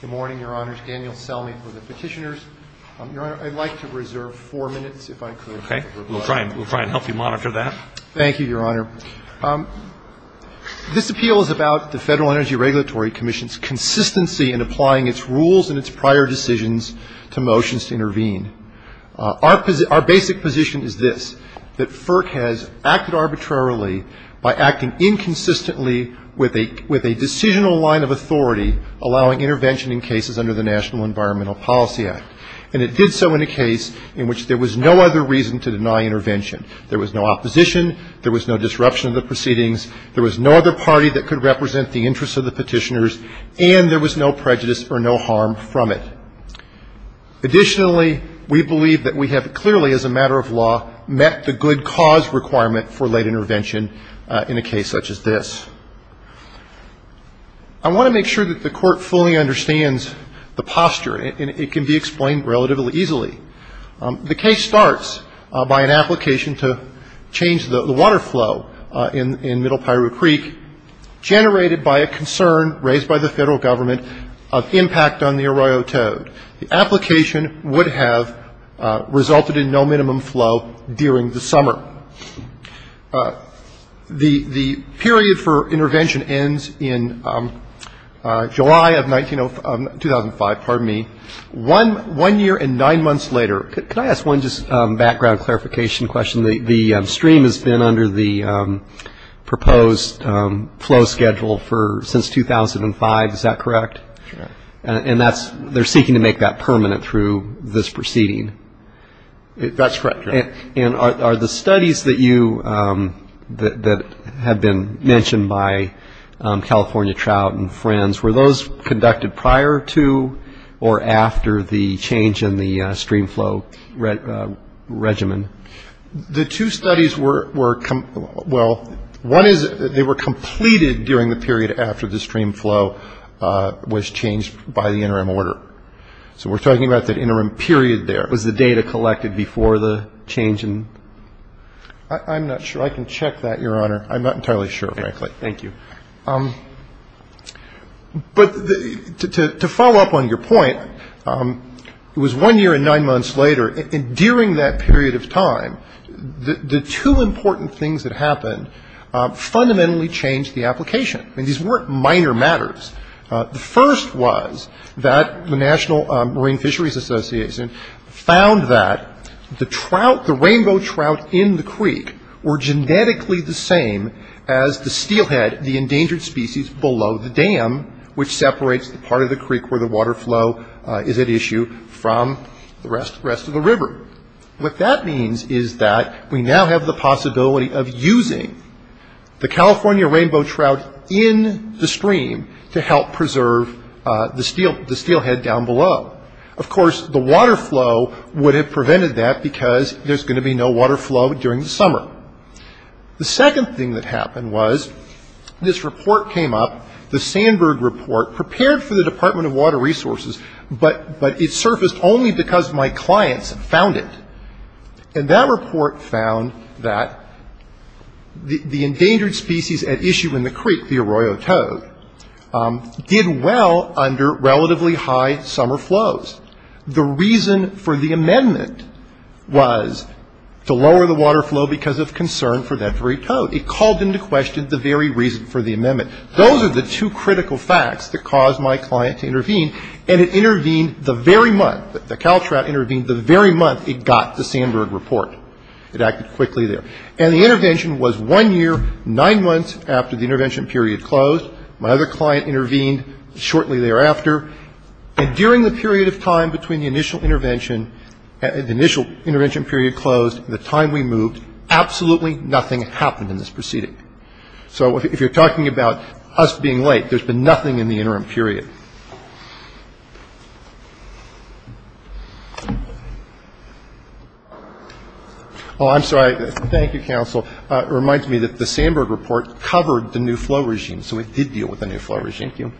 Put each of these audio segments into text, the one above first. Good morning, your honors. Daniel Selmy for the petitioners. Your honor, I'd like to reserve four minutes, if I could. Okay. We'll try and help you monitor that. Thank you, your honor. This appeal is about the Federal Energy Regulatory Commission's consistency in applying its rules and its prior decisions to motions to intervene. Our basic position is this, that FERC has acted arbitrarily by acting inconsistently with a decisional line of authority allowing intervention in cases under the National Environmental Policy Act. And it did so in a case in which there was no other reason to deny intervention. There was no opposition, there was no disruption of the proceedings, there was no other party that could represent the interests of the petitioners, and there was no prejudice or no harm from it. Additionally, we believe that we have clearly, as a matter of law, met the good cause requirement for late intervention in a case such as this. I want to make sure that the Court fully understands the posture, and it can be explained relatively easily. The case starts by an application to change the water flow in Middle Piru Creek, generated by a concern raised by the Federal Government of impact on the Arroyo Toad. The application would have resulted in no minimum flow during the summer. The period for intervention ends in July of 2005. Pardon me. One year and nine months later. Can I ask one just background clarification question? The stream has been under the proposed flow schedule since 2005. Is that correct? And that's they're seeking to make that permanent through this proceeding. That's correct. And are the studies that have been mentioned by California Trout and Friends, were those conducted prior to or after the change in the stream flow regimen? The two studies were, well, one is they were completed during the period after the stream flow was changed by the interim order. So we're talking about that interim period there. Was the data collected before the change in? I'm not sure. I can check that, Your Honor. I'm not entirely sure, frankly. Thank you. But to follow up on your point, it was one year and nine months later. And during that period of time, the two important things that happened fundamentally changed the application. I mean, these weren't minor matters. The first was that the National Marine Fisheries Association found that the rainbow trout in the creek were genetically the same as the steelhead, the endangered species below the dam, which separates the part of the creek where the water flow is at issue from the rest of the river. What that means is that we now have the possibility of using the California rainbow trout in the stream to help preserve the steelhead down below. Of course, the water flow would have prevented that because there's going to be no water flow during the summer. The second thing that happened was this report came up, the Sandberg Report, prepared for the Department of Water Resources, but it surfaced only because my clients found it. And that report found that the endangered species at issue in the creek, the arroyo toad, did well under relatively high summer flows. The reason for the amendment was to lower the water flow because of concern for that very toad. It called into question the very reason for the amendment. Those are the two critical facts that caused my client to intervene, and it intervened the very month. The Caltrout intervened the very month it got the Sandberg Report. It acted quickly there. And the intervention was one year, nine months after the intervention period closed. My other client intervened shortly thereafter. And during the period of time between the initial intervention period closed and the time we moved, absolutely nothing happened in this proceeding. So if you're talking about us being late, there's been nothing in the interim period. Oh, I'm sorry. Thank you, counsel. It reminds me that the Sandberg Report covered the new flow regime, so it did deal with the new flow regime. Thank you.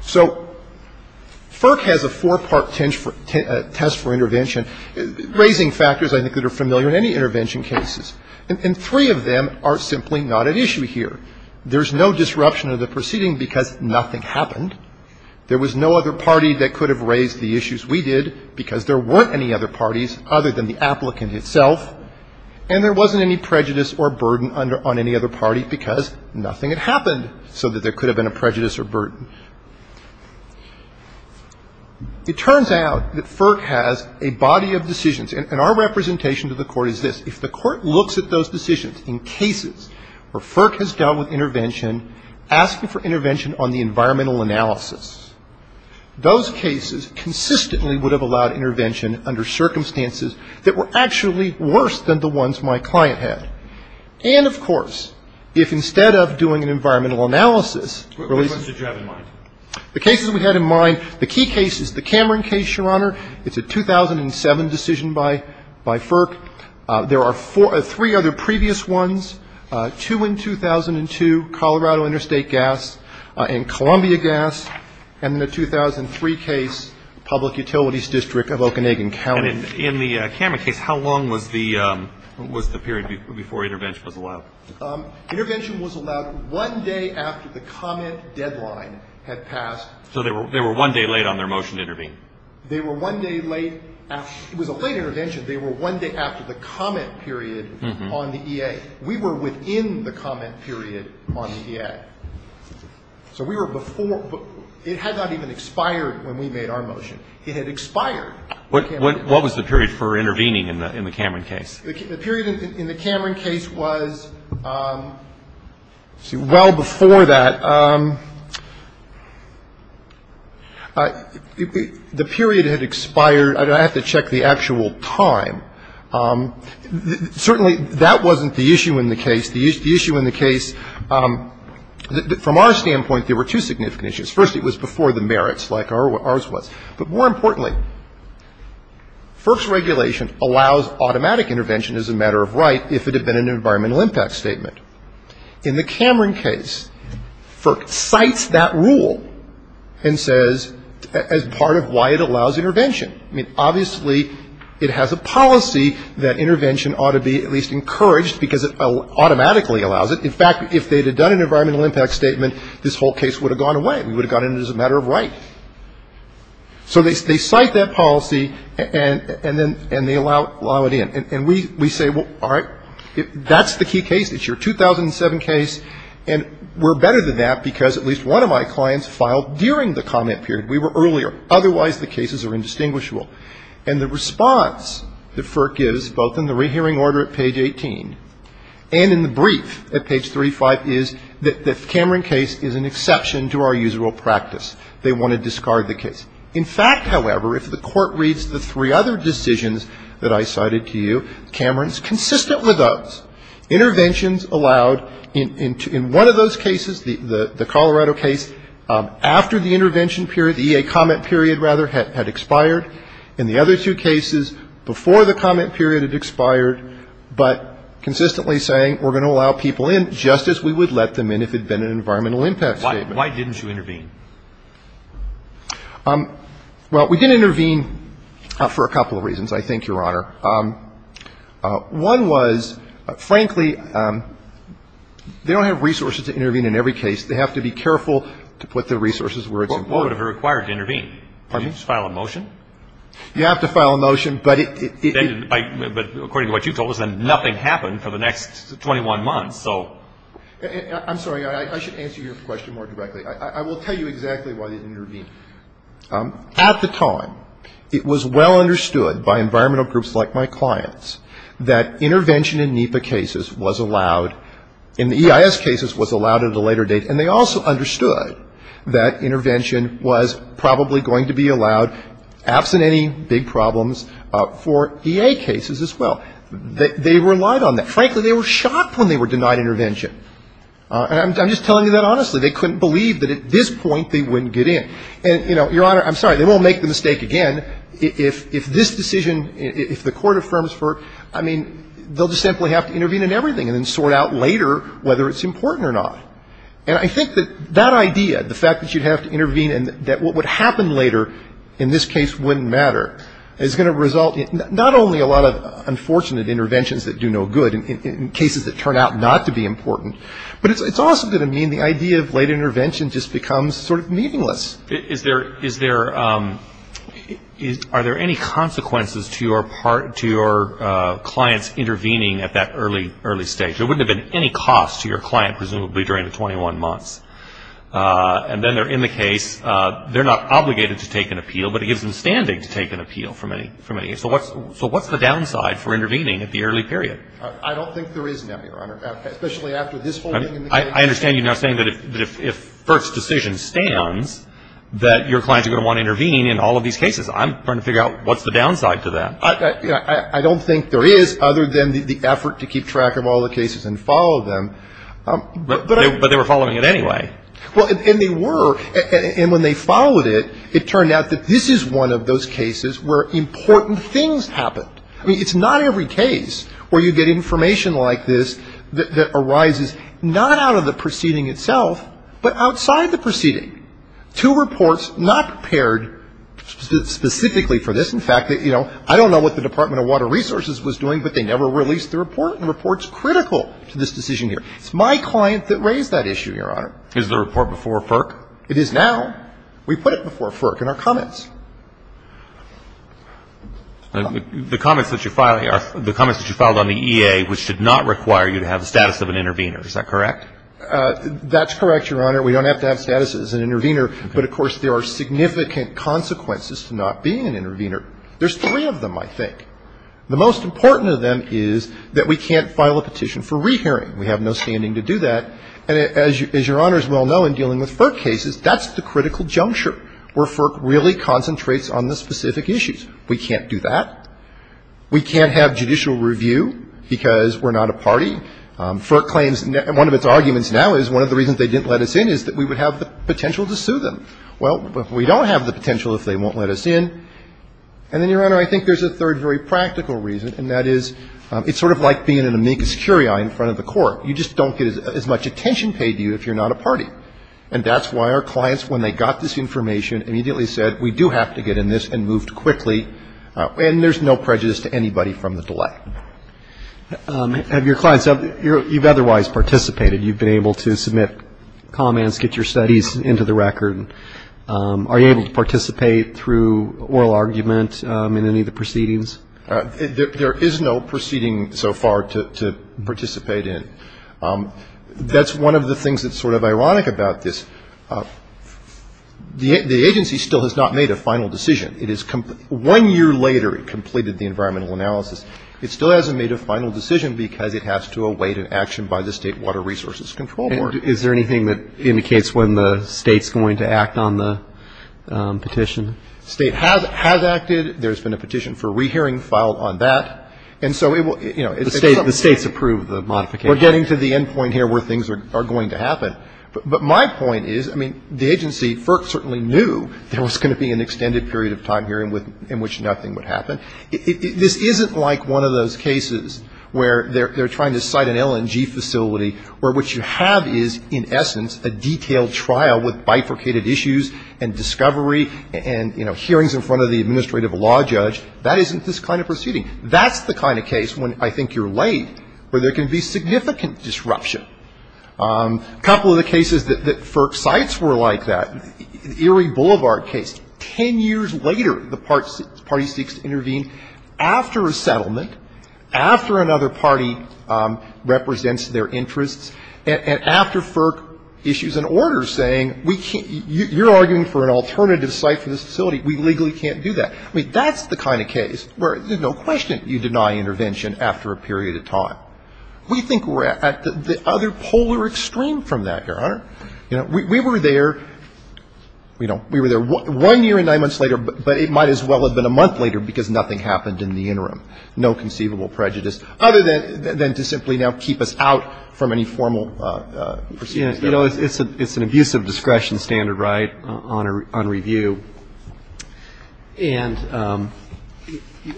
So FERC has a four-part test for intervention, raising factors I think that are familiar in any intervention cases. And three of them are simply not at issue here. There's no disruption of the proceeding because nothing happened. There was no other party that could have raised the issues we did because there weren't any other parties other than the applicant itself. And there wasn't any prejudice or burden on any other party because nothing had happened, so that there could have been a prejudice or burden. It turns out that FERC has a body of decisions. And our representation to the Court is this. If the Court looks at those decisions in cases where FERC has dealt with intervention, asking for intervention on the environmental analysis, those cases consistently would have allowed intervention under circumstances that were actually worse than the ones my client had. And, of course, if instead of doing an environmental analysis, What cases did you have in mind? The cases we had in mind, the key cases, the Cameron case, Your Honor, it's a 2007 decision by FERC. There are three other previous ones, two in 2002, Colorado Interstate Gas and Columbia Gas. And in the 2003 case, Public Utilities District of Okanagan County. And in the Cameron case, how long was the period before intervention was allowed? Intervention was allowed one day after the comment deadline had passed. So they were one day late on their motion to intervene? They were one day late. It was a late intervention. They were one day after the comment period on the EA. We were within the comment period on the EA. So we were before. It had not even expired when we made our motion. It had expired. What was the period for intervening in the Cameron case? The period in the Cameron case was, let's see, well before that. The period had expired. I have to check the actual time. Certainly that wasn't the issue in the case. The issue in the case, from our standpoint, there were two significant issues. First, it was before the merits like ours was. But more importantly, FERC's regulation allows automatic intervention as a matter of right if it had been an environmental impact statement. In the Cameron case, FERC cites that rule and says as part of why it allows intervention. I mean, obviously it has a policy that intervention ought to be at least encouraged because it automatically allows it. In fact, if they had done an environmental impact statement, this whole case would have gone away. It would have gone in as a matter of right. So they cite that policy and they allow it in. And we say, well, all right, that's the key case. It's your 2007 case. And we're better than that because at least one of my clients filed during the comment period. We were earlier. Otherwise, the cases are indistinguishable. And the response that FERC gives, both in the rehearing order at page 18 and in the brief at page 35, is that the Cameron case is an exception to our usual practice. They want to discard the case. In fact, however, if the Court reads the three other decisions that I cited to you, Cameron's consistent with those. Interventions allowed in one of those cases, the Colorado case, after the intervention period, the EA comment period, rather, had expired. In the other two cases, before the comment period, it expired, but consistently saying we're going to allow people in just as we would let them in if it had been an environmental impact statement. Why didn't you intervene? Well, we did intervene for a couple of reasons, I think, Your Honor. One was, frankly, they don't have resources to intervene in every case. They have to be careful to put the resources where it's important. Why would it be required to intervene? Pardon me? Did you just file a motion? You have to file a motion, but it didn't. But according to what you told us, then nothing happened for the next 21 months, so. I'm sorry. I should answer your question more directly. I will tell you exactly why they didn't intervene. At the time, it was well understood by environmental groups like my clients that intervention in NEPA cases was allowed, in the EIS cases was allowed at a later date, and they also understood that intervention was probably going to be allowed, absent any big problems, for EA cases as well. They relied on that. Frankly, they were shocked when they were denied intervention. And I'm just telling you that honestly. They couldn't believe that at this point they wouldn't get in. And, you know, Your Honor, I'm sorry, they won't make the mistake again if this decision, if the Court affirms for, I mean, they'll just simply have to intervene in everything and then sort out later whether it's important or not. And I think that that idea, the fact that you'd have to intervene and that what would happen later in this case wouldn't matter, is going to result in not only a lot of unfortunate interventions that do no good in cases that turn out not to be important, but it's also going to mean the idea of late intervention just becomes sort of meaningless. Is there any consequences to your clients intervening at that early stage? There wouldn't have been any cost to your client, presumably, during the 21 months. And then they're in the case. They're not obligated to take an appeal, but it gives them standing to take an appeal from any case. So what's the downside for intervening at the early period? I don't think there is, Nebby, Your Honor, especially after this holding in the case. I understand you're now saying that if First's decision stands, that your clients are going to want to intervene in all of these cases. I'm trying to figure out what's the downside to that. I don't think there is other than the effort to keep track of all the cases and follow them. But they were following it anyway. Well, and they were. And when they followed it, it turned out that this is one of those cases where important things happened. I mean, it's not every case where you get information like this that arises not out of the proceeding itself, but outside the proceeding. Two reports not prepared specifically for this. In fact, you know, I don't know what the Department of Water Resources was doing, but they never released the report. The report's critical to this decision here. It's my client that raised that issue, Your Honor. Is the report before FERC? It is now. We put it before FERC in our comments. The comments that you're filing are the comments that you filed on the EA, which did not require you to have the status of an intervener. Is that correct? That's correct, Your Honor. We don't have to have status as an intervener. But, of course, there are significant consequences to not being an intervener. There's three of them, I think. The most important of them is that we can't file a petition for rehearing. We have no standing to do that. And as Your Honors well know in dealing with FERC cases, that's the critical juncture where FERC really concentrates on the specific issues. We can't do that. We can't have judicial review because we're not a party. FERC claims one of its arguments now is one of the reasons they didn't let us in is that we would have the potential to sue them. Well, we don't have the potential if they won't let us in. And then, Your Honor, I think there's a third very practical reason, and that is it's sort of like being an amicus curiae in front of the court. You just don't get as much attention paid to you if you're not a party. And that's why our clients, when they got this information, immediately said we do have to get in this and moved quickly. And there's no prejudice to anybody from the delay. And your clients, you've otherwise participated. You've been able to submit comments, get your studies into the record. Are you able to participate through oral argument in any of the proceedings? There is no proceeding so far to participate in. That's one of the things that's sort of ironic about this. The agency still has not made a final decision. One year later, it completed the environmental analysis. It still hasn't made a final decision because it has to await an action by the State Water Resources Control Board. And is there anything that indicates when the State's going to act on the petition? The State has acted. There's been a petition for re-hearing filed on that. And so it will, you know, it's something. The State's approved the modification. We're getting to the end point here where things are going to happen. But my point is, I mean, the agency certainly knew there was going to be an extended period of time here in which nothing would happen. This isn't like one of those cases where they're trying to cite an LNG facility where what you have is, in essence, a detailed trial with bifurcated issues and discovery and, you know, hearings in front of the administrative law judge. That isn't this kind of proceeding. That's the kind of case when I think you're late where there can be significant disruption. A couple of the cases that FERC cites were like that. The Erie Boulevard case. Ten years later, the party seeks to intervene after a settlement, after another party represents their interests, and after FERC issues an order saying we can't – you're arguing for an alternative site for this facility. We legally can't do that. I mean, that's the kind of case where there's no question you deny intervention after a period of time. We think we're at the other polar extreme from that, Your Honor. You know, we were there, you know, we were there one year and nine months later, but it might as well have been a month later because nothing happened in the interim. No conceivable prejudice other than to simply now keep us out from any formal proceedings. You know, it's an abusive discretion standard, right, on review. And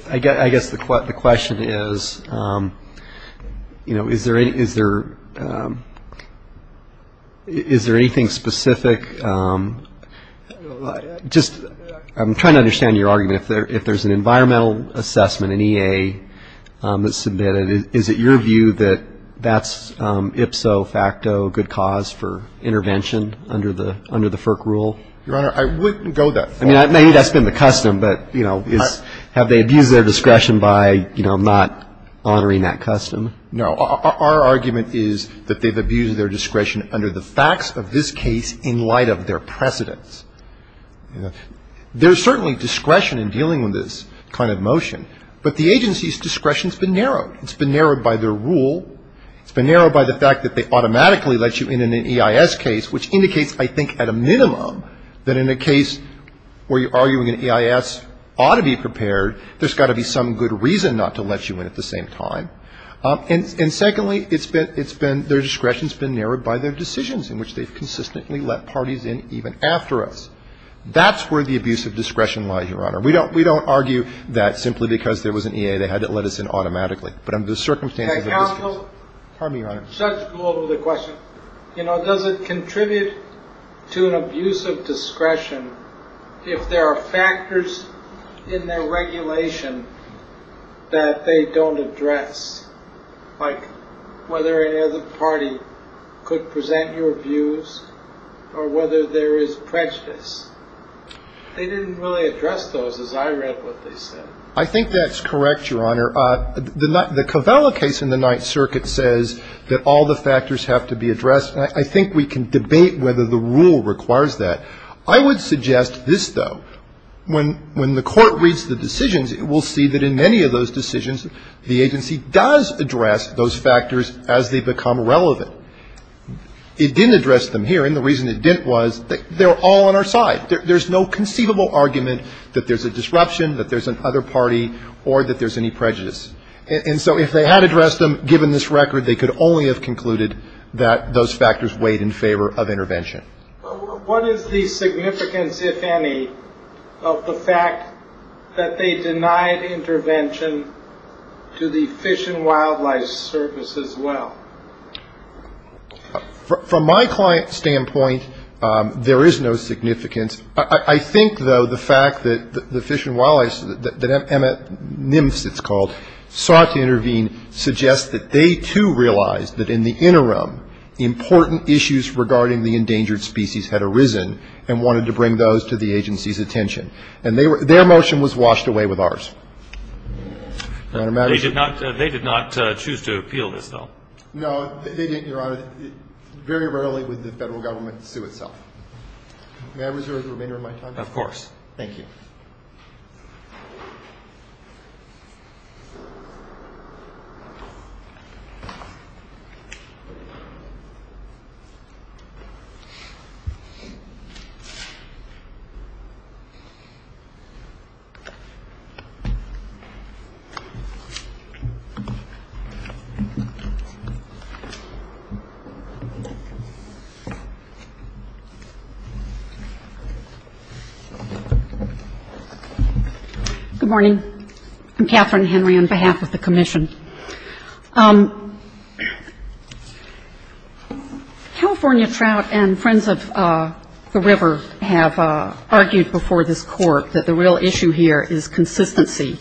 I guess the question is, you know, is there anything specific – just I'm trying to understand your argument. If there's an environmental assessment, an EA that's submitted, is it your view that that's ipso facto good cause for intervention under the FERC rule? Your Honor, I wouldn't go that far. I mean, maybe that's been the custom, but, you know, have they abused their discretion by, you know, not honoring that custom? No. Our argument is that they've abused their discretion under the facts of this case in light of their precedents. You know, there's certainly discretion in dealing with this kind of motion, but the agency's discretion has been narrowed. It's been narrowed by their rule. It's been narrowed by the fact that they automatically let you in on an EIS case, which indicates, I think, at a minimum, that in a case where you're arguing an EIS ought to be prepared, there's got to be some good reason not to let you in at the same time. And secondly, it's been – their discretion's been narrowed by their decisions in which they've consistently let parties in even after us. That's where the abuse of discretion lies, Your Honor. We don't argue that simply because there was an EA they had to let us in automatically, but under the circumstances of this case. Pardon me, Your Honor. Judge Gould with a question. You know, does it contribute to an abuse of discretion if there are factors in their regulation that they don't address, like whether any other party could present your views or whether there is prejudice? They didn't really address those as I read what they said. I think that's correct, Your Honor. The Kovella case in the Ninth Circuit says that all the factors have to be addressed, and I think we can debate whether the rule requires that. I would suggest this, though. When the Court reads the decisions, it will see that in many of those decisions, the agency does address those factors as they become relevant. It didn't address them here, and the reason it didn't was they're all on our side. There's no conceivable argument that there's a disruption, that there's another party, or that there's any prejudice. And so if they had addressed them, given this record, they could only have concluded that those factors weighed in favor of intervention. What is the significance, if any, of the fact that they denied intervention to the Fish and Wildlife Service as well? From my client's standpoint, there is no significance. I think, though, the fact that the Fish and Wildlife Service, that NIMFS, it's called, sought to intervene suggests that they, too, realized that in the interim, important issues regarding the endangered species had arisen and wanted to bring those to the agency's attention. And their motion was washed away with ours. They did not choose to appeal this, though. No, they didn't, Your Honor. Very rarely would the Federal Government sue itself. May I reserve the remainder of my time? Of course. Thank you. Good morning. I'm Catherine Henry on behalf of the Commission. California Trout and Friends of the River have argued before this Court that the real issue here is consistency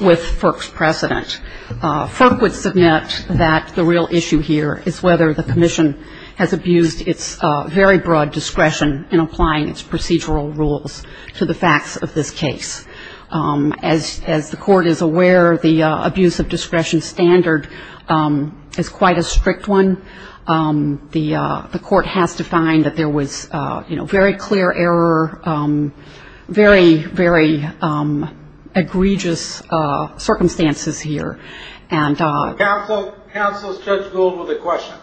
with FERC's precedent. FERC would submit that the real issue here is whether the Commission has abused its very broad discretion in applying its procedural rules to the facts of this case. As the Court is aware, the abuse of discretion standard is quite a strict one. The Court has defined that there was very clear error, very, very egregious circumstances here. Counsel, Counsel, Judge Gould with a question.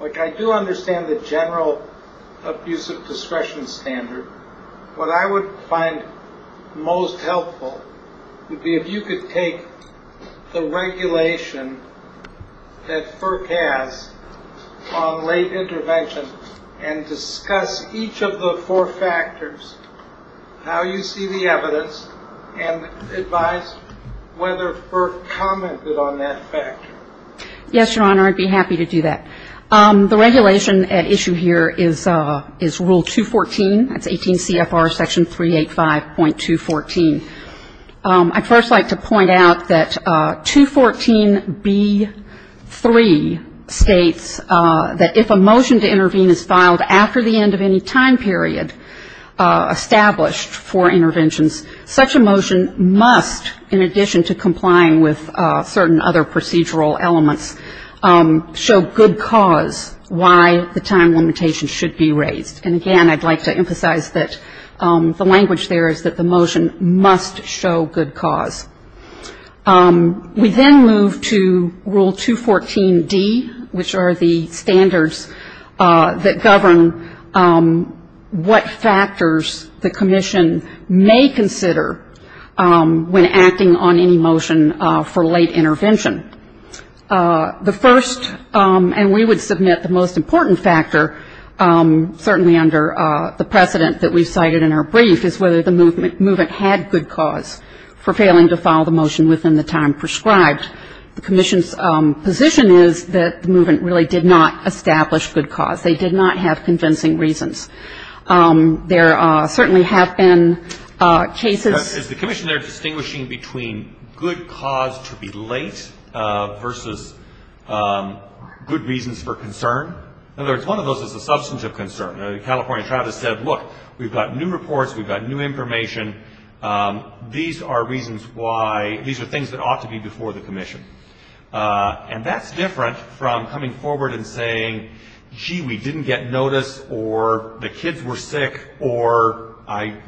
Like, I do understand the general abuse of discretion standard. What I would find most helpful would be if you could take the regulation that FERC has on late intervention and discuss each of the four factors, how you see the evidence, and advise whether FERC commented on that factor. Yes, Your Honor. I'd be happy to do that. The regulation at issue here is Rule 214. That's 18 CFR Section 385.214. I'd first like to point out that 214B3 states that if a motion to intervene is filed after the end of any time period established for interventions, such a motion must, in addition to complying with certain other procedural elements, show good cause why the time limitation should be raised. And again, I'd like to emphasize that the language there is that the motion must show good cause. We then move to Rule 214D, which are the standards that govern what factors the commission may consider when acting on any motion for late intervention. The first, and we would submit the most important factor, certainly under the precedent that we've cited in our brief, is whether the movement had good cause for failing to file the motion within the time prescribed. The commission's position is that the movement really did not establish good cause. They did not have convincing reasons. There certainly have been cases. Is the commission there distinguishing between good cause to be late versus good reasons for concern? In other words, one of those is a substantive concern. The California Tribe has said, look, we've got new reports. We've got new information. These are reasons why these are things that ought to be before the commission. And that's different from coming forward and saying, gee, we didn't get notice or the kids were sick or I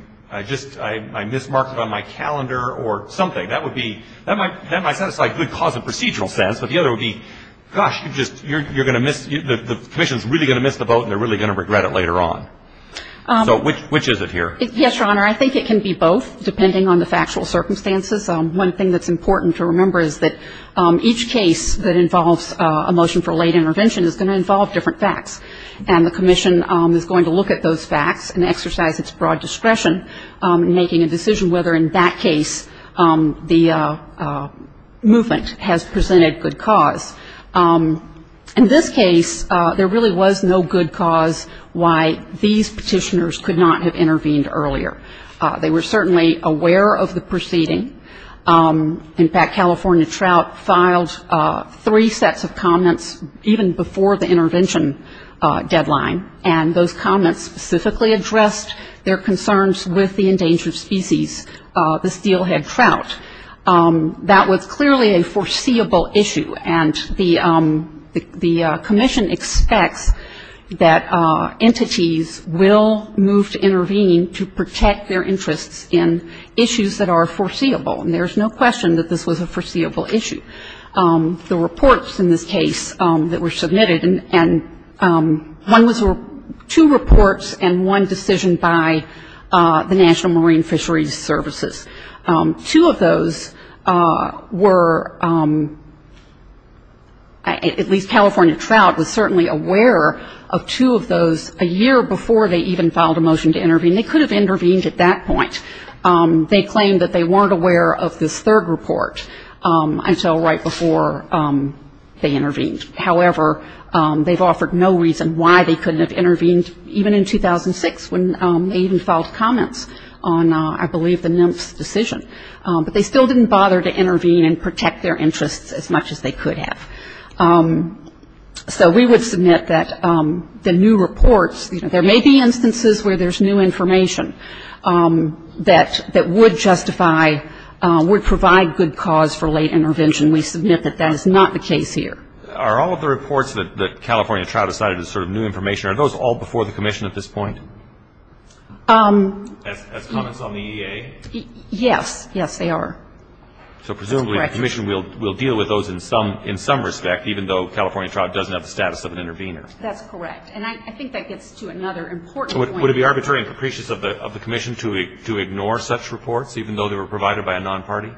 just mismarked it on my calendar or something. That might satisfy good cause in a procedural sense. But the other would be, gosh, you're going to miss, the commission is really going to miss the boat and they're really going to regret it later on. So which is it here? Yes, Your Honor, I think it can be both, depending on the factual circumstances. One thing that's important to remember is that each case that involves a motion for late intervention is going to involve different facts, and the commission is going to look at those facts and exercise its broad discretion in making a decision whether in that case the movement has presented good cause. In this case, there really was no good cause why these petitioners could not have intervened earlier. They were certainly aware of the proceeding. In fact, California Trout filed three sets of comments even before the intervention deadline, and those comments specifically addressed their concerns with the endangered species, the steelhead trout. That was clearly a foreseeable issue, and the commission expects that entities will move to intervene to protect their interests in issues that are foreseeable, and there's no question that this was a foreseeable issue. The reports in this case that were submitted, and one was two reports and one decision by the National Marine Fisheries Services. Two of those were, at least California Trout was certainly aware of two of those a year before they even filed a motion to intervene. They could have intervened at that point. They claimed that they weren't aware of this third report until right before they intervened. However, they've offered no reason why they couldn't have intervened, even in 2006 when they even filed comments on, I believe, the NIMPS decision. But they still didn't bother to intervene and protect their interests as much as they could have. So we would submit that the new reports, there may be instances where there's new information that would justify, would provide good cause for late intervention. We submit that that is not the case here. Are all of the reports that California Trout has cited as sort of new information, are those all before the commission at this point as comments on the EA? Yes. Yes, they are. So presumably the commission will deal with those in some respect, even though California Trout doesn't have the status of an intervener. That's correct. And I think that gets to another important point. Would it be arbitrary and capricious of the commission to ignore such reports, even though they were provided by a non-party?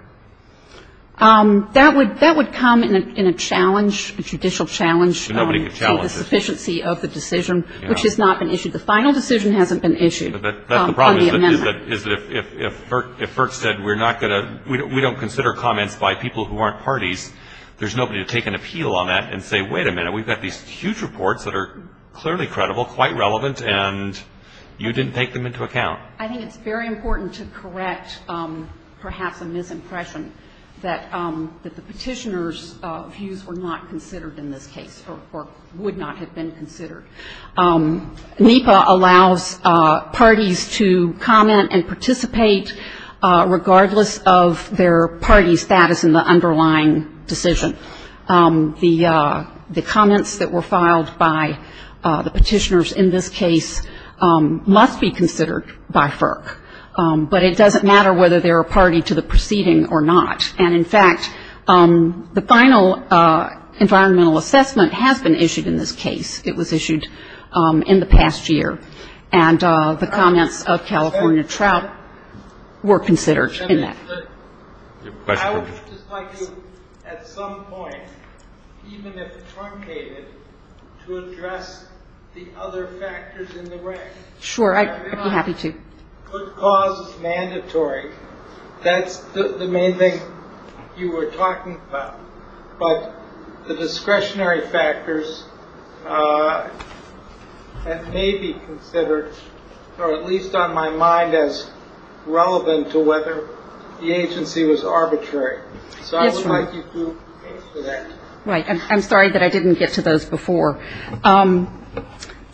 That would come in a challenge, a judicial challenge to the sufficiency of the decision, which has not been issued. The final decision hasn't been issued on the amendment. If FERC said we're not going to, we don't consider comments by people who aren't parties, there's nobody to take an appeal on that and say, wait a minute, we've got these huge reports that are clearly credible, quite relevant, and you didn't take them into account. I think it's very important to correct perhaps a misimpression that the petitioner's views were not considered in this case or would not have been considered. NEPA allows parties to comment and participate regardless of their party status in the underlying decision. The comments that were filed by the petitioners in this case must be considered by FERC, but it doesn't matter whether they're a party to the proceeding or not. And, in fact, the final environmental assessment has been issued in this case. It was issued in the past year, and the comments of California Trout were considered in that. I would just like to, at some point, even if truncated, to address the other factors in the way. Sure, I'd be happy to. Good cause is mandatory. That's the main thing you were talking about. But the discretionary factors may be considered, or at least on my mind, as relevant to whether the agency was arbitrary. So I would like you to answer that. Right. I'm sorry that I didn't get to those before. The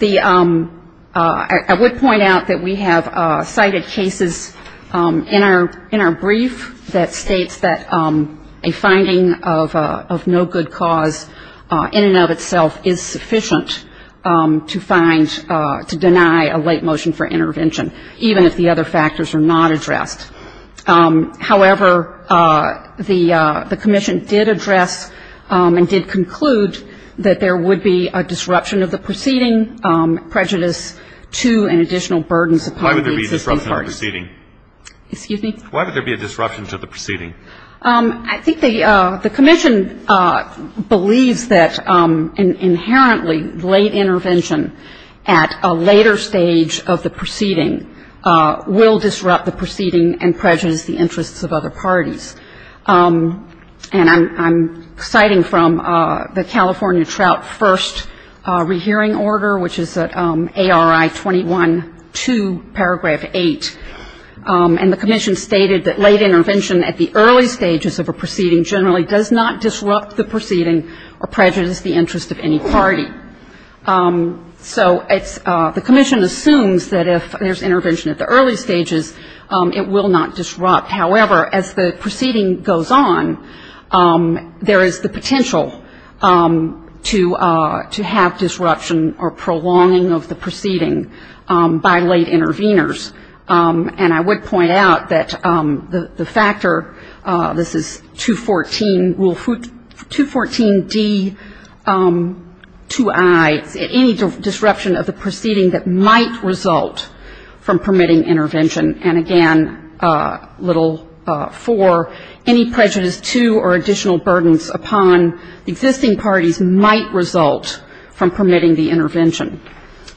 ‑‑ I would point out that we have cited cases in our brief that states that a finding of no good cause in and of itself is sufficient to find, to deny a late motion for intervention, even if the other factors are not addressed. However, the commission did address and did conclude that there would be a disruption of the proceeding, prejudice to and additional burdens upon the existing parties. Why would there be a disruption to the proceeding? Excuse me? Why would there be a disruption to the proceeding? I think the commission believes that inherently late intervention at a later stage of the proceeding will disrupt the proceeding and prejudice the interests of other parties. And I'm citing from the California Trout First Rehearing Order, which is ARI 21-2, Paragraph 8. And the commission stated that late intervention at the early stages of a proceeding generally does not disrupt the proceeding or prejudice the interest of any party. So it's ‑‑ the commission assumes that if there's intervention at the early stages, it will not disrupt. However, as the proceeding goes on, there is the potential to have disruption or prolonging of the proceeding by late disruption of the proceeding that might result from permitting intervention. And again, little 4, any prejudice to or additional burdens upon existing parties might result from permitting the intervention.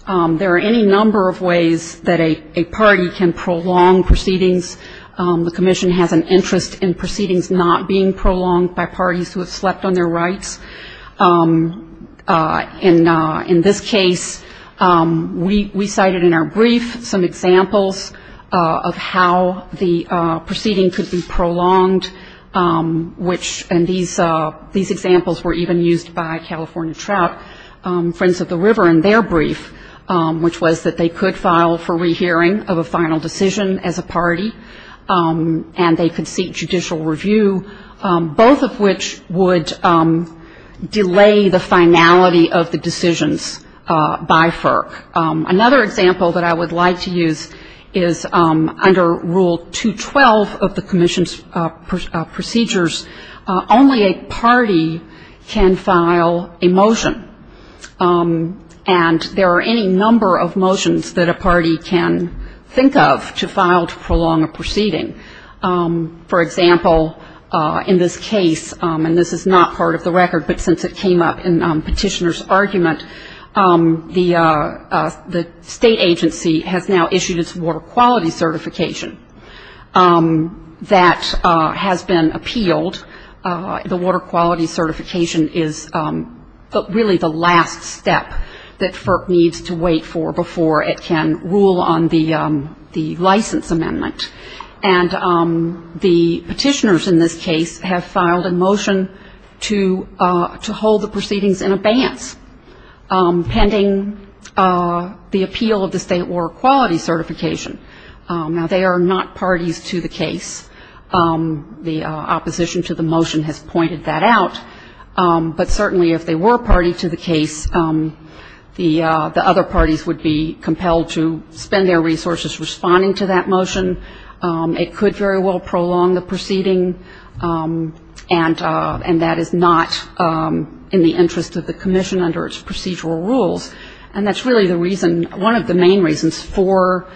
There are any number of ways that a party can prolong proceedings. The commission has an interest in proceedings not being prolonged by parties who have slept on their rights. In this case, we cited in our brief some examples of how the proceeding could be prolonged, which ‑‑ and these examples were even used by California Trout Friends of the River in their brief, which was that they could file for rehearing of a finality of the decisions by FERC. Another example that I would like to use is under Rule 212 of the commission's procedures, only a party can file a motion. And there are any number of motions that a party can think of to file to prolong a proceeding. For example, in this case, and this is not part of the record, but since it came up in Petitioner's argument, the state agency has now issued its water quality certification that has been appealed. The water quality certification is really the last step that FERC needs to wait for before it can rule on the license amendment. And the petitioners in this case have filed a motion to hold the proceedings in abeyance, pending the appeal of the state water quality certification. Now, they are not parties to the case. The opposition to the motion has pointed that out. But certainly if they were a party to the case, the other parties would be compelled to spend their resources responding to that motion. It could very well prolong the proceeding. And that is not in the interest of the commission under its procedural rules. And that's really the reason, one of the main reasons for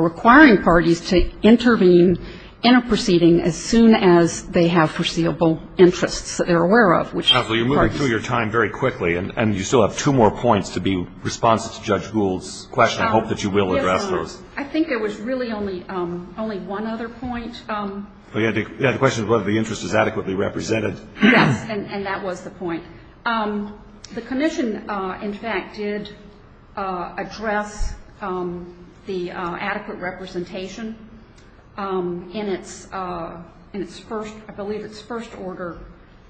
requiring parties to intervene in a proceeding as soon as they have foreseeable interests that they're aware of, which is the parties. And you still have two more points to be responsive to Judge Gould's question. I hope that you will address those. I think there was really only one other point. You had the question of whether the interest is adequately represented. Yes, and that was the point. The commission, in fact, did address the adequate representation in its first, I believe its first order,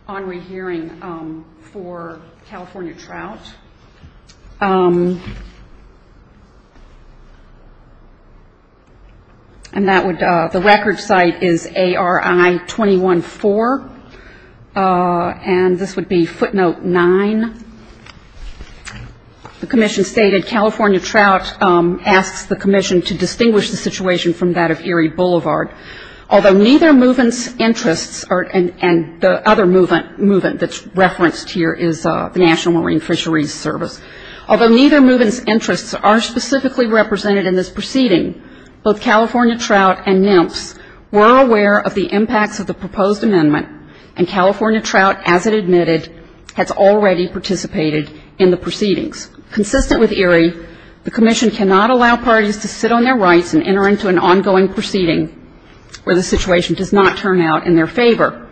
on rehearing for California Trout. And that would, the record site is ARI 21-4, and this would be footnote 9. The commission stated California Trout asks the commission to distinguish the situation from that of Erie Boulevard. Although neither move-in's interests, and the other move-in that's referenced here is the National Marine Fisheries Service. Although neither move-in's interests are specifically represented in this proceeding, both California Trout and NMFS were aware of the impacts of the proposed amendment, and California Trout, as it admitted, has already participated in the proceedings. Consistent with Erie, the commission cannot allow parties to sit on their rights and enter into an ongoing proceeding where the situation does not turn out in their favor.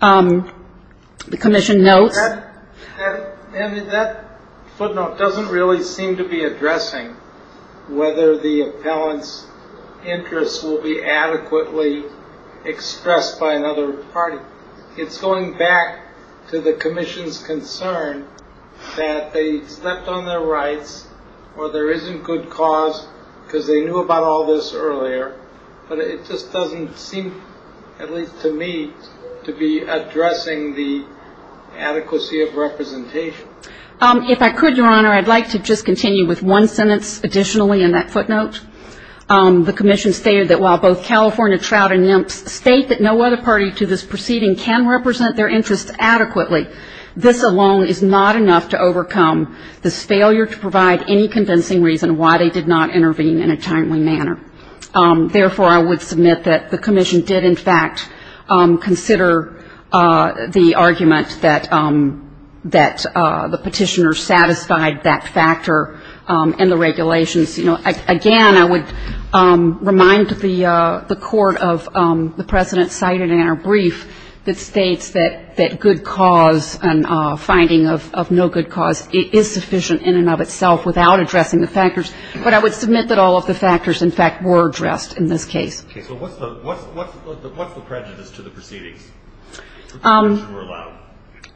The commission notes. And that footnote doesn't really seem to be addressing whether the appellant's interests will be adequately expressed by another party. It's going back to the commission's concern that they stepped on their rights, or there isn't good cause, because they knew about all this earlier. But it just doesn't seem, at least to me, to be addressing the adequacy of representation. If I could, Your Honor, I'd like to just continue with one sentence additionally in that footnote. The commission stated that while both California Trout and NMFS state that no other party to this proceeding can represent their interests adequately, this alone is not enough to overcome this failure to provide any convincing reason why they did not intervene in a timely manner. Therefore, I would submit that the commission did, in fact, consider the argument that the petitioner satisfied that factor in the regulations. You know, again, I would remind the Court of the precedent cited in our brief that states that good cause and finding of no good cause is sufficient in and of itself without addressing the factors. But I would submit that all of the factors, in fact, were addressed in this case. Okay. So what's the prejudice to the proceedings? The conditions were allowed.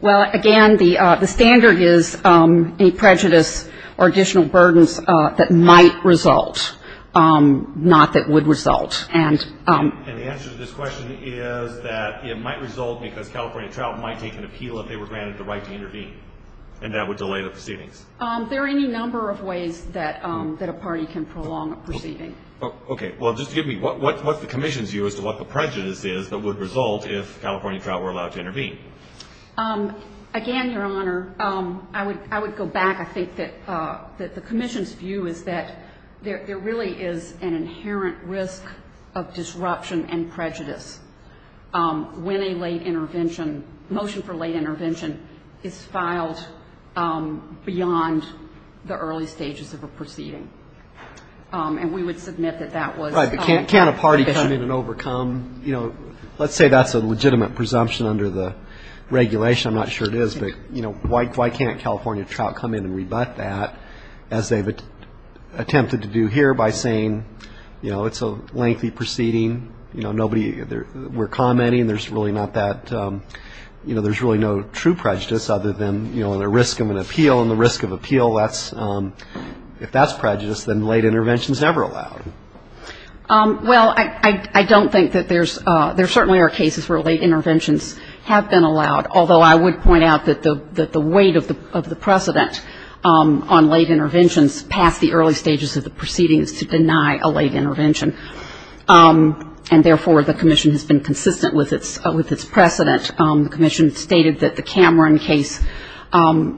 Well, again, the standard is a prejudice or additional burdens that might result, not that would result. And the answer to this question is that it might result because California Trout might take an appeal if they were granted the right to intervene, and that would delay the proceedings. There are any number of ways that a party can prolong a proceeding. Okay. Well, just give me what's the commission's view as to what the prejudice is that would result if California Trout were allowed to intervene? Again, Your Honor, I would go back. I think that the commission's view is that there really is an inherent risk of disruption and prejudice when a late intervention ‑‑ motion for late intervention is filed beyond the early stages of a proceeding. And we would submit that that was ‑‑ Right. But can't a party come in and overcome? You know, let's say that's a legitimate presumption under the regulation. I'm not sure it is, but, you know, why can't California Trout come in and rebut that as they've attempted to do here by saying, you know, it's a lengthy proceeding, you know, nobody ‑‑ we're commenting, there's really not that ‑‑ you know, there's really no true prejudice other than, you know, the risk of an appeal and the risk of appeal. If that's prejudice, then late intervention is never allowed. Well, I don't think that there's ‑‑ there certainly are cases where late interventions have been allowed, although I would point out that the weight of the precedent on late interventions passed the early stages of the proceedings to deny a late intervention. And therefore, the commission has been consistent with its precedent. The commission stated that the Cameron case,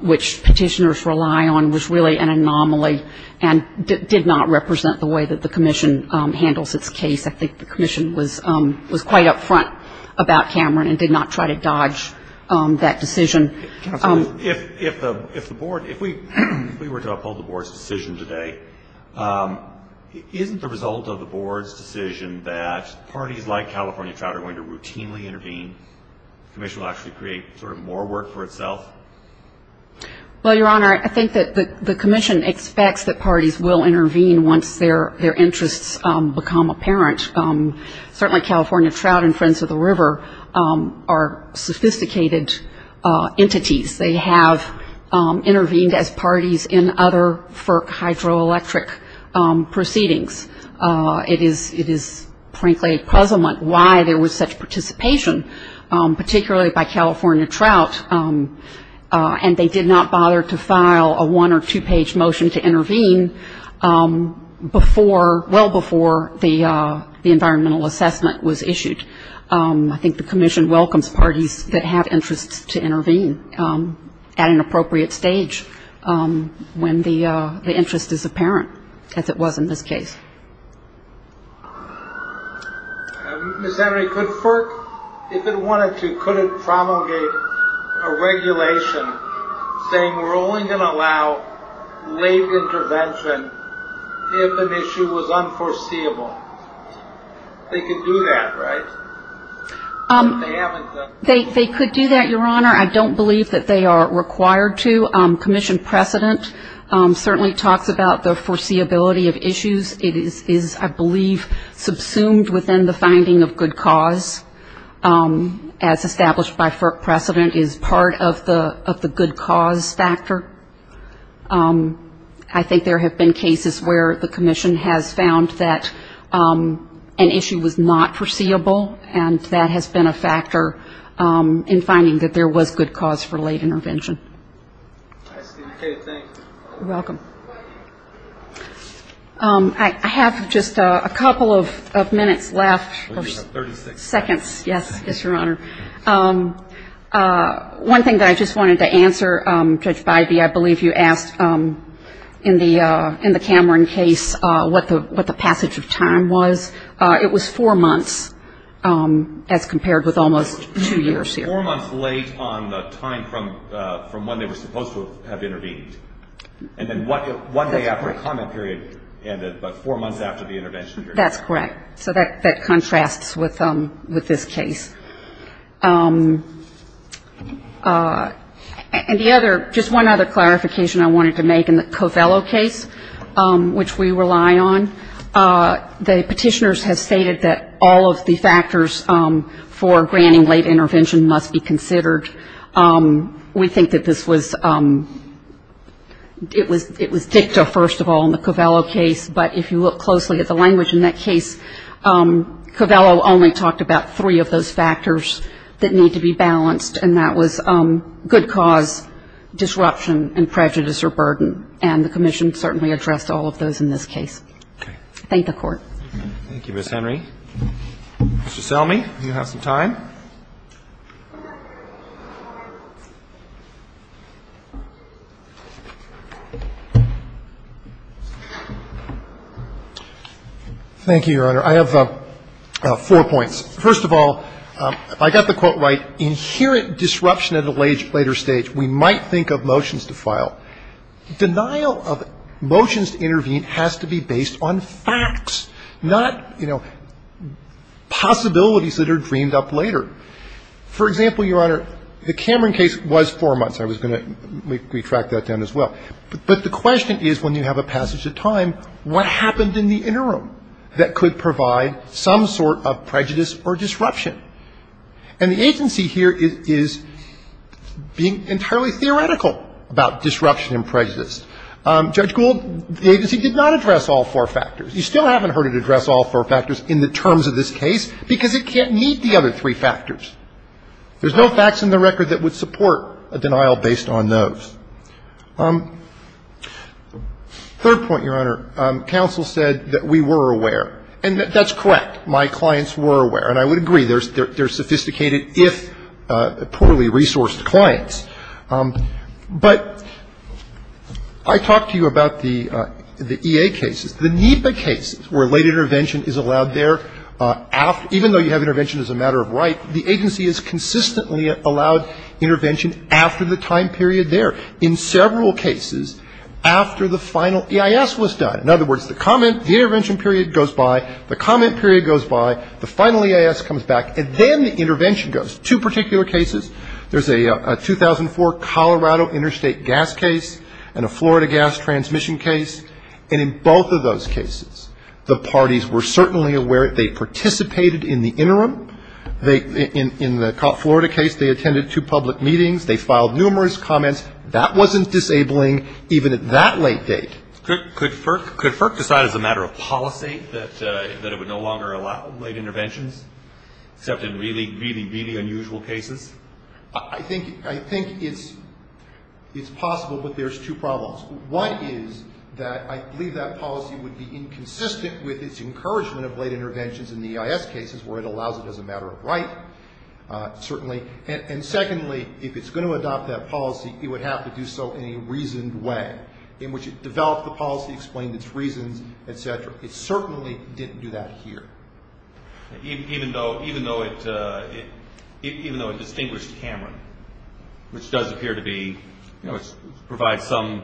which petitioners rely on, was really an anomaly and did not represent the way that the commission handles its case. I think the commission was quite up front about Cameron and did not try to dodge that decision. If the board ‑‑ if we were to uphold the board's decision today, isn't the result of the board's decision that parties like California Trout are going to routinely intervene, the commission will actually create sort of more work for itself? Well, Your Honor, I think that the commission expects that parties will intervene once their interests become apparent. Certainly California Trout and Friends of the River are sophisticated entities. They have intervened as parties in other FERC hydroelectric proceedings. It is frankly a puzzlement why there was such participation, particularly by California Trout. And they did not bother to file a one or two‑page motion to intervene before ‑‑ well before the environmental assessment was issued. I think the commission welcomes parties that have interests to intervene at an appropriate stage when the interest is apparent, as it was in this case. Ms. Henry, could FERC, if it wanted to, could it promulgate a regulation saying we're only going to allow late intervention if an issue was unforeseeable? They could do that, right? They could do that, Your Honor. I don't believe that they are required to. Commission precedent certainly talks about the foreseeability of issues. It is, I believe, subsumed within the finding of good cause, as established by FERC precedent is part of the good cause factor. I think there have been cases where the commission has found that an issue was not foreseeable, and that has been a factor in finding that there was good cause for late intervention. I see. Okay, thank you. You're welcome. I have just a couple of minutes left, or seconds, yes, Your Honor. One thing that I just wanted to answer, Judge Bybee, I believe you asked in the Cameron case what the passage of time was. It was four months, as compared with almost two years here. Four months late on the time from when they were supposed to have intervened. And then one day after the comment period ended, but four months after the intervention, Your Honor. That's correct. So that contrasts with this case. And the other, just one other clarification I wanted to make in the Covello case, which we rely on, the Petitioners have stated that all of the factors for granting late intervention must be considered. We think that this was, it was dicta, first of all, in the Covello case. But if you look closely at the language in that case, Covello only talked about three of those factors that need to be balanced, and that was good cause, disruption, and prejudice or burden. And the Commission certainly addressed all of those in this case. Thank the Court. Thank you, Ms. Henry. Mr. Selmy, you have some time. Thank you, Your Honor. I have four points. First of all, if I got the quote right, inherent disruption at a later stage. We might think of motions to file. Denial of motions to intervene has to be based on facts, not, you know, possibilities that are dreamed up later. For example, Your Honor, the Cameron case was four months. I was going to retract that down as well. But the question is, when you have a passage of time, what happened in the interim that could provide some sort of prejudice or disruption? And the agency here is being entirely theoretical about disruption and prejudice. Judge Gould, the agency did not address all four factors. You still haven't heard it address all four factors in the terms of this case because it can't meet the other three factors. There's no facts in the record that would support a denial based on those. Third point, Your Honor, counsel said that we were aware. And that's correct. My clients were aware. And I would agree, they're sophisticated if poorly resourced clients. But I talked to you about the EA cases. The NEPA cases where late intervention is allowed there after, even though you have intervention as a matter of right, the agency is consistently allowed intervention after the time period there, in several cases, after the final EIS was done. In other words, the comment, the intervention period goes by, the comment period goes by, the final EIS comes back, and then the intervention goes. Two particular cases. There's a 2004 Colorado interstate gas case and a Florida gas transmission case. And in both of those cases, the parties were certainly aware. They participated in the interim. In the Florida case, they attended two public meetings. They filed numerous comments. That wasn't disabling even at that late date. Could FERC decide as a matter of policy that it would no longer allow late interventions, except in really, really, really unusual cases? I think it's possible, but there's two problems. One is that I believe that policy would be inconsistent with its encouragement of late interventions in the EIS cases where it allows it as a matter of right, certainly. And secondly, if it's going to adopt that policy, it would have to do so in a reasoned way, in which it developed the policy, explained its reasons, et cetera. It certainly didn't do that here. Even though it distinguished Cameron, which does appear to be, you know, provide some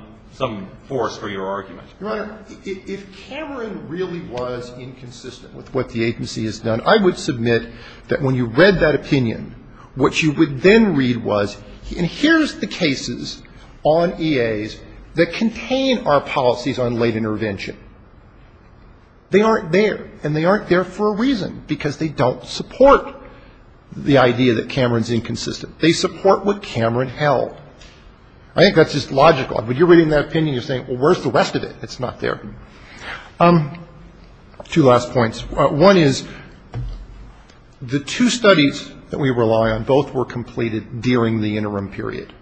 force for your argument. Your Honor, if Cameron really was inconsistent with what the agency has done, I would submit that when you read that opinion, what you would then read was, and here's the cases on EAs that contain our policies on late intervention. They aren't there, and they aren't there for a reason, because they don't support the idea that Cameron's inconsistent. They support what Cameron held. I think that's just logical. When you're reading that opinion, you're saying, well, where's the rest of it? It's not there. Two last points. One is the two studies that we rely on, both were completed during the interim period.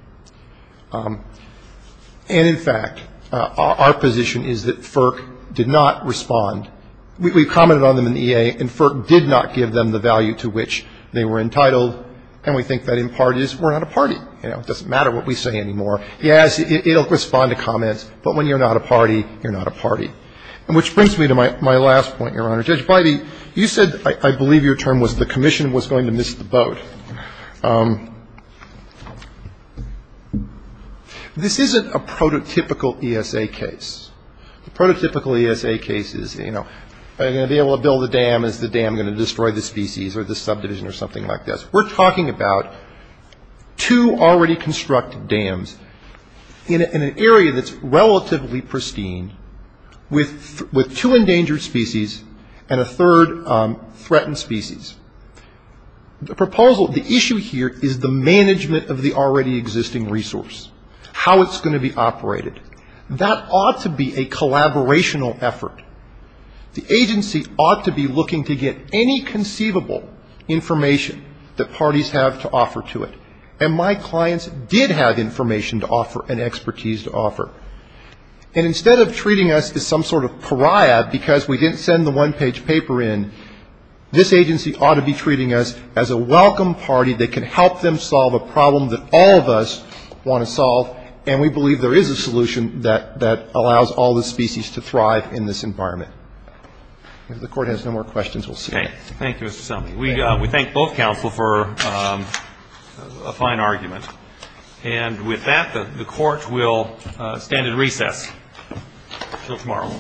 And, in fact, our position is that FERC did not respond. We commented on them in the EA, and FERC did not give them the value to which they were entitled, and we think that, in part, is we're not a party. You know, it doesn't matter what we say anymore. Yes, it will respond to comments, but when you're not a party, you're not a party. And which brings me to my last point, Your Honor. Judge Bidey, you said, I believe your term was the commission was going to miss the boat. This isn't a prototypical ESA case. The prototypical ESA case is, you know, are you going to be able to build a dam? Is the dam going to destroy the species or the subdivision or something like this? We're talking about two already constructed dams in an area that's relatively pristine, with two endangered species and a third threatened species. The proposal, the issue here is the management of the already existing resource, how it's going to be operated. That ought to be a collaborational effort. The agency ought to be looking to get any conceivable information that parties have to offer to it. And my clients did have information to offer and expertise to offer. And instead of treating us as some sort of pariah because we didn't send the one-page paper in, this agency ought to be treating us as a welcome party that can help them solve a problem that all of us want to solve, and we believe there is a solution that allows all the species to thrive in this environment. If the Court has no more questions, we'll see you. Thank you, Mr. Selby. We thank both counsel for a fine argument. And with that, the Court will stand at recess until tomorrow.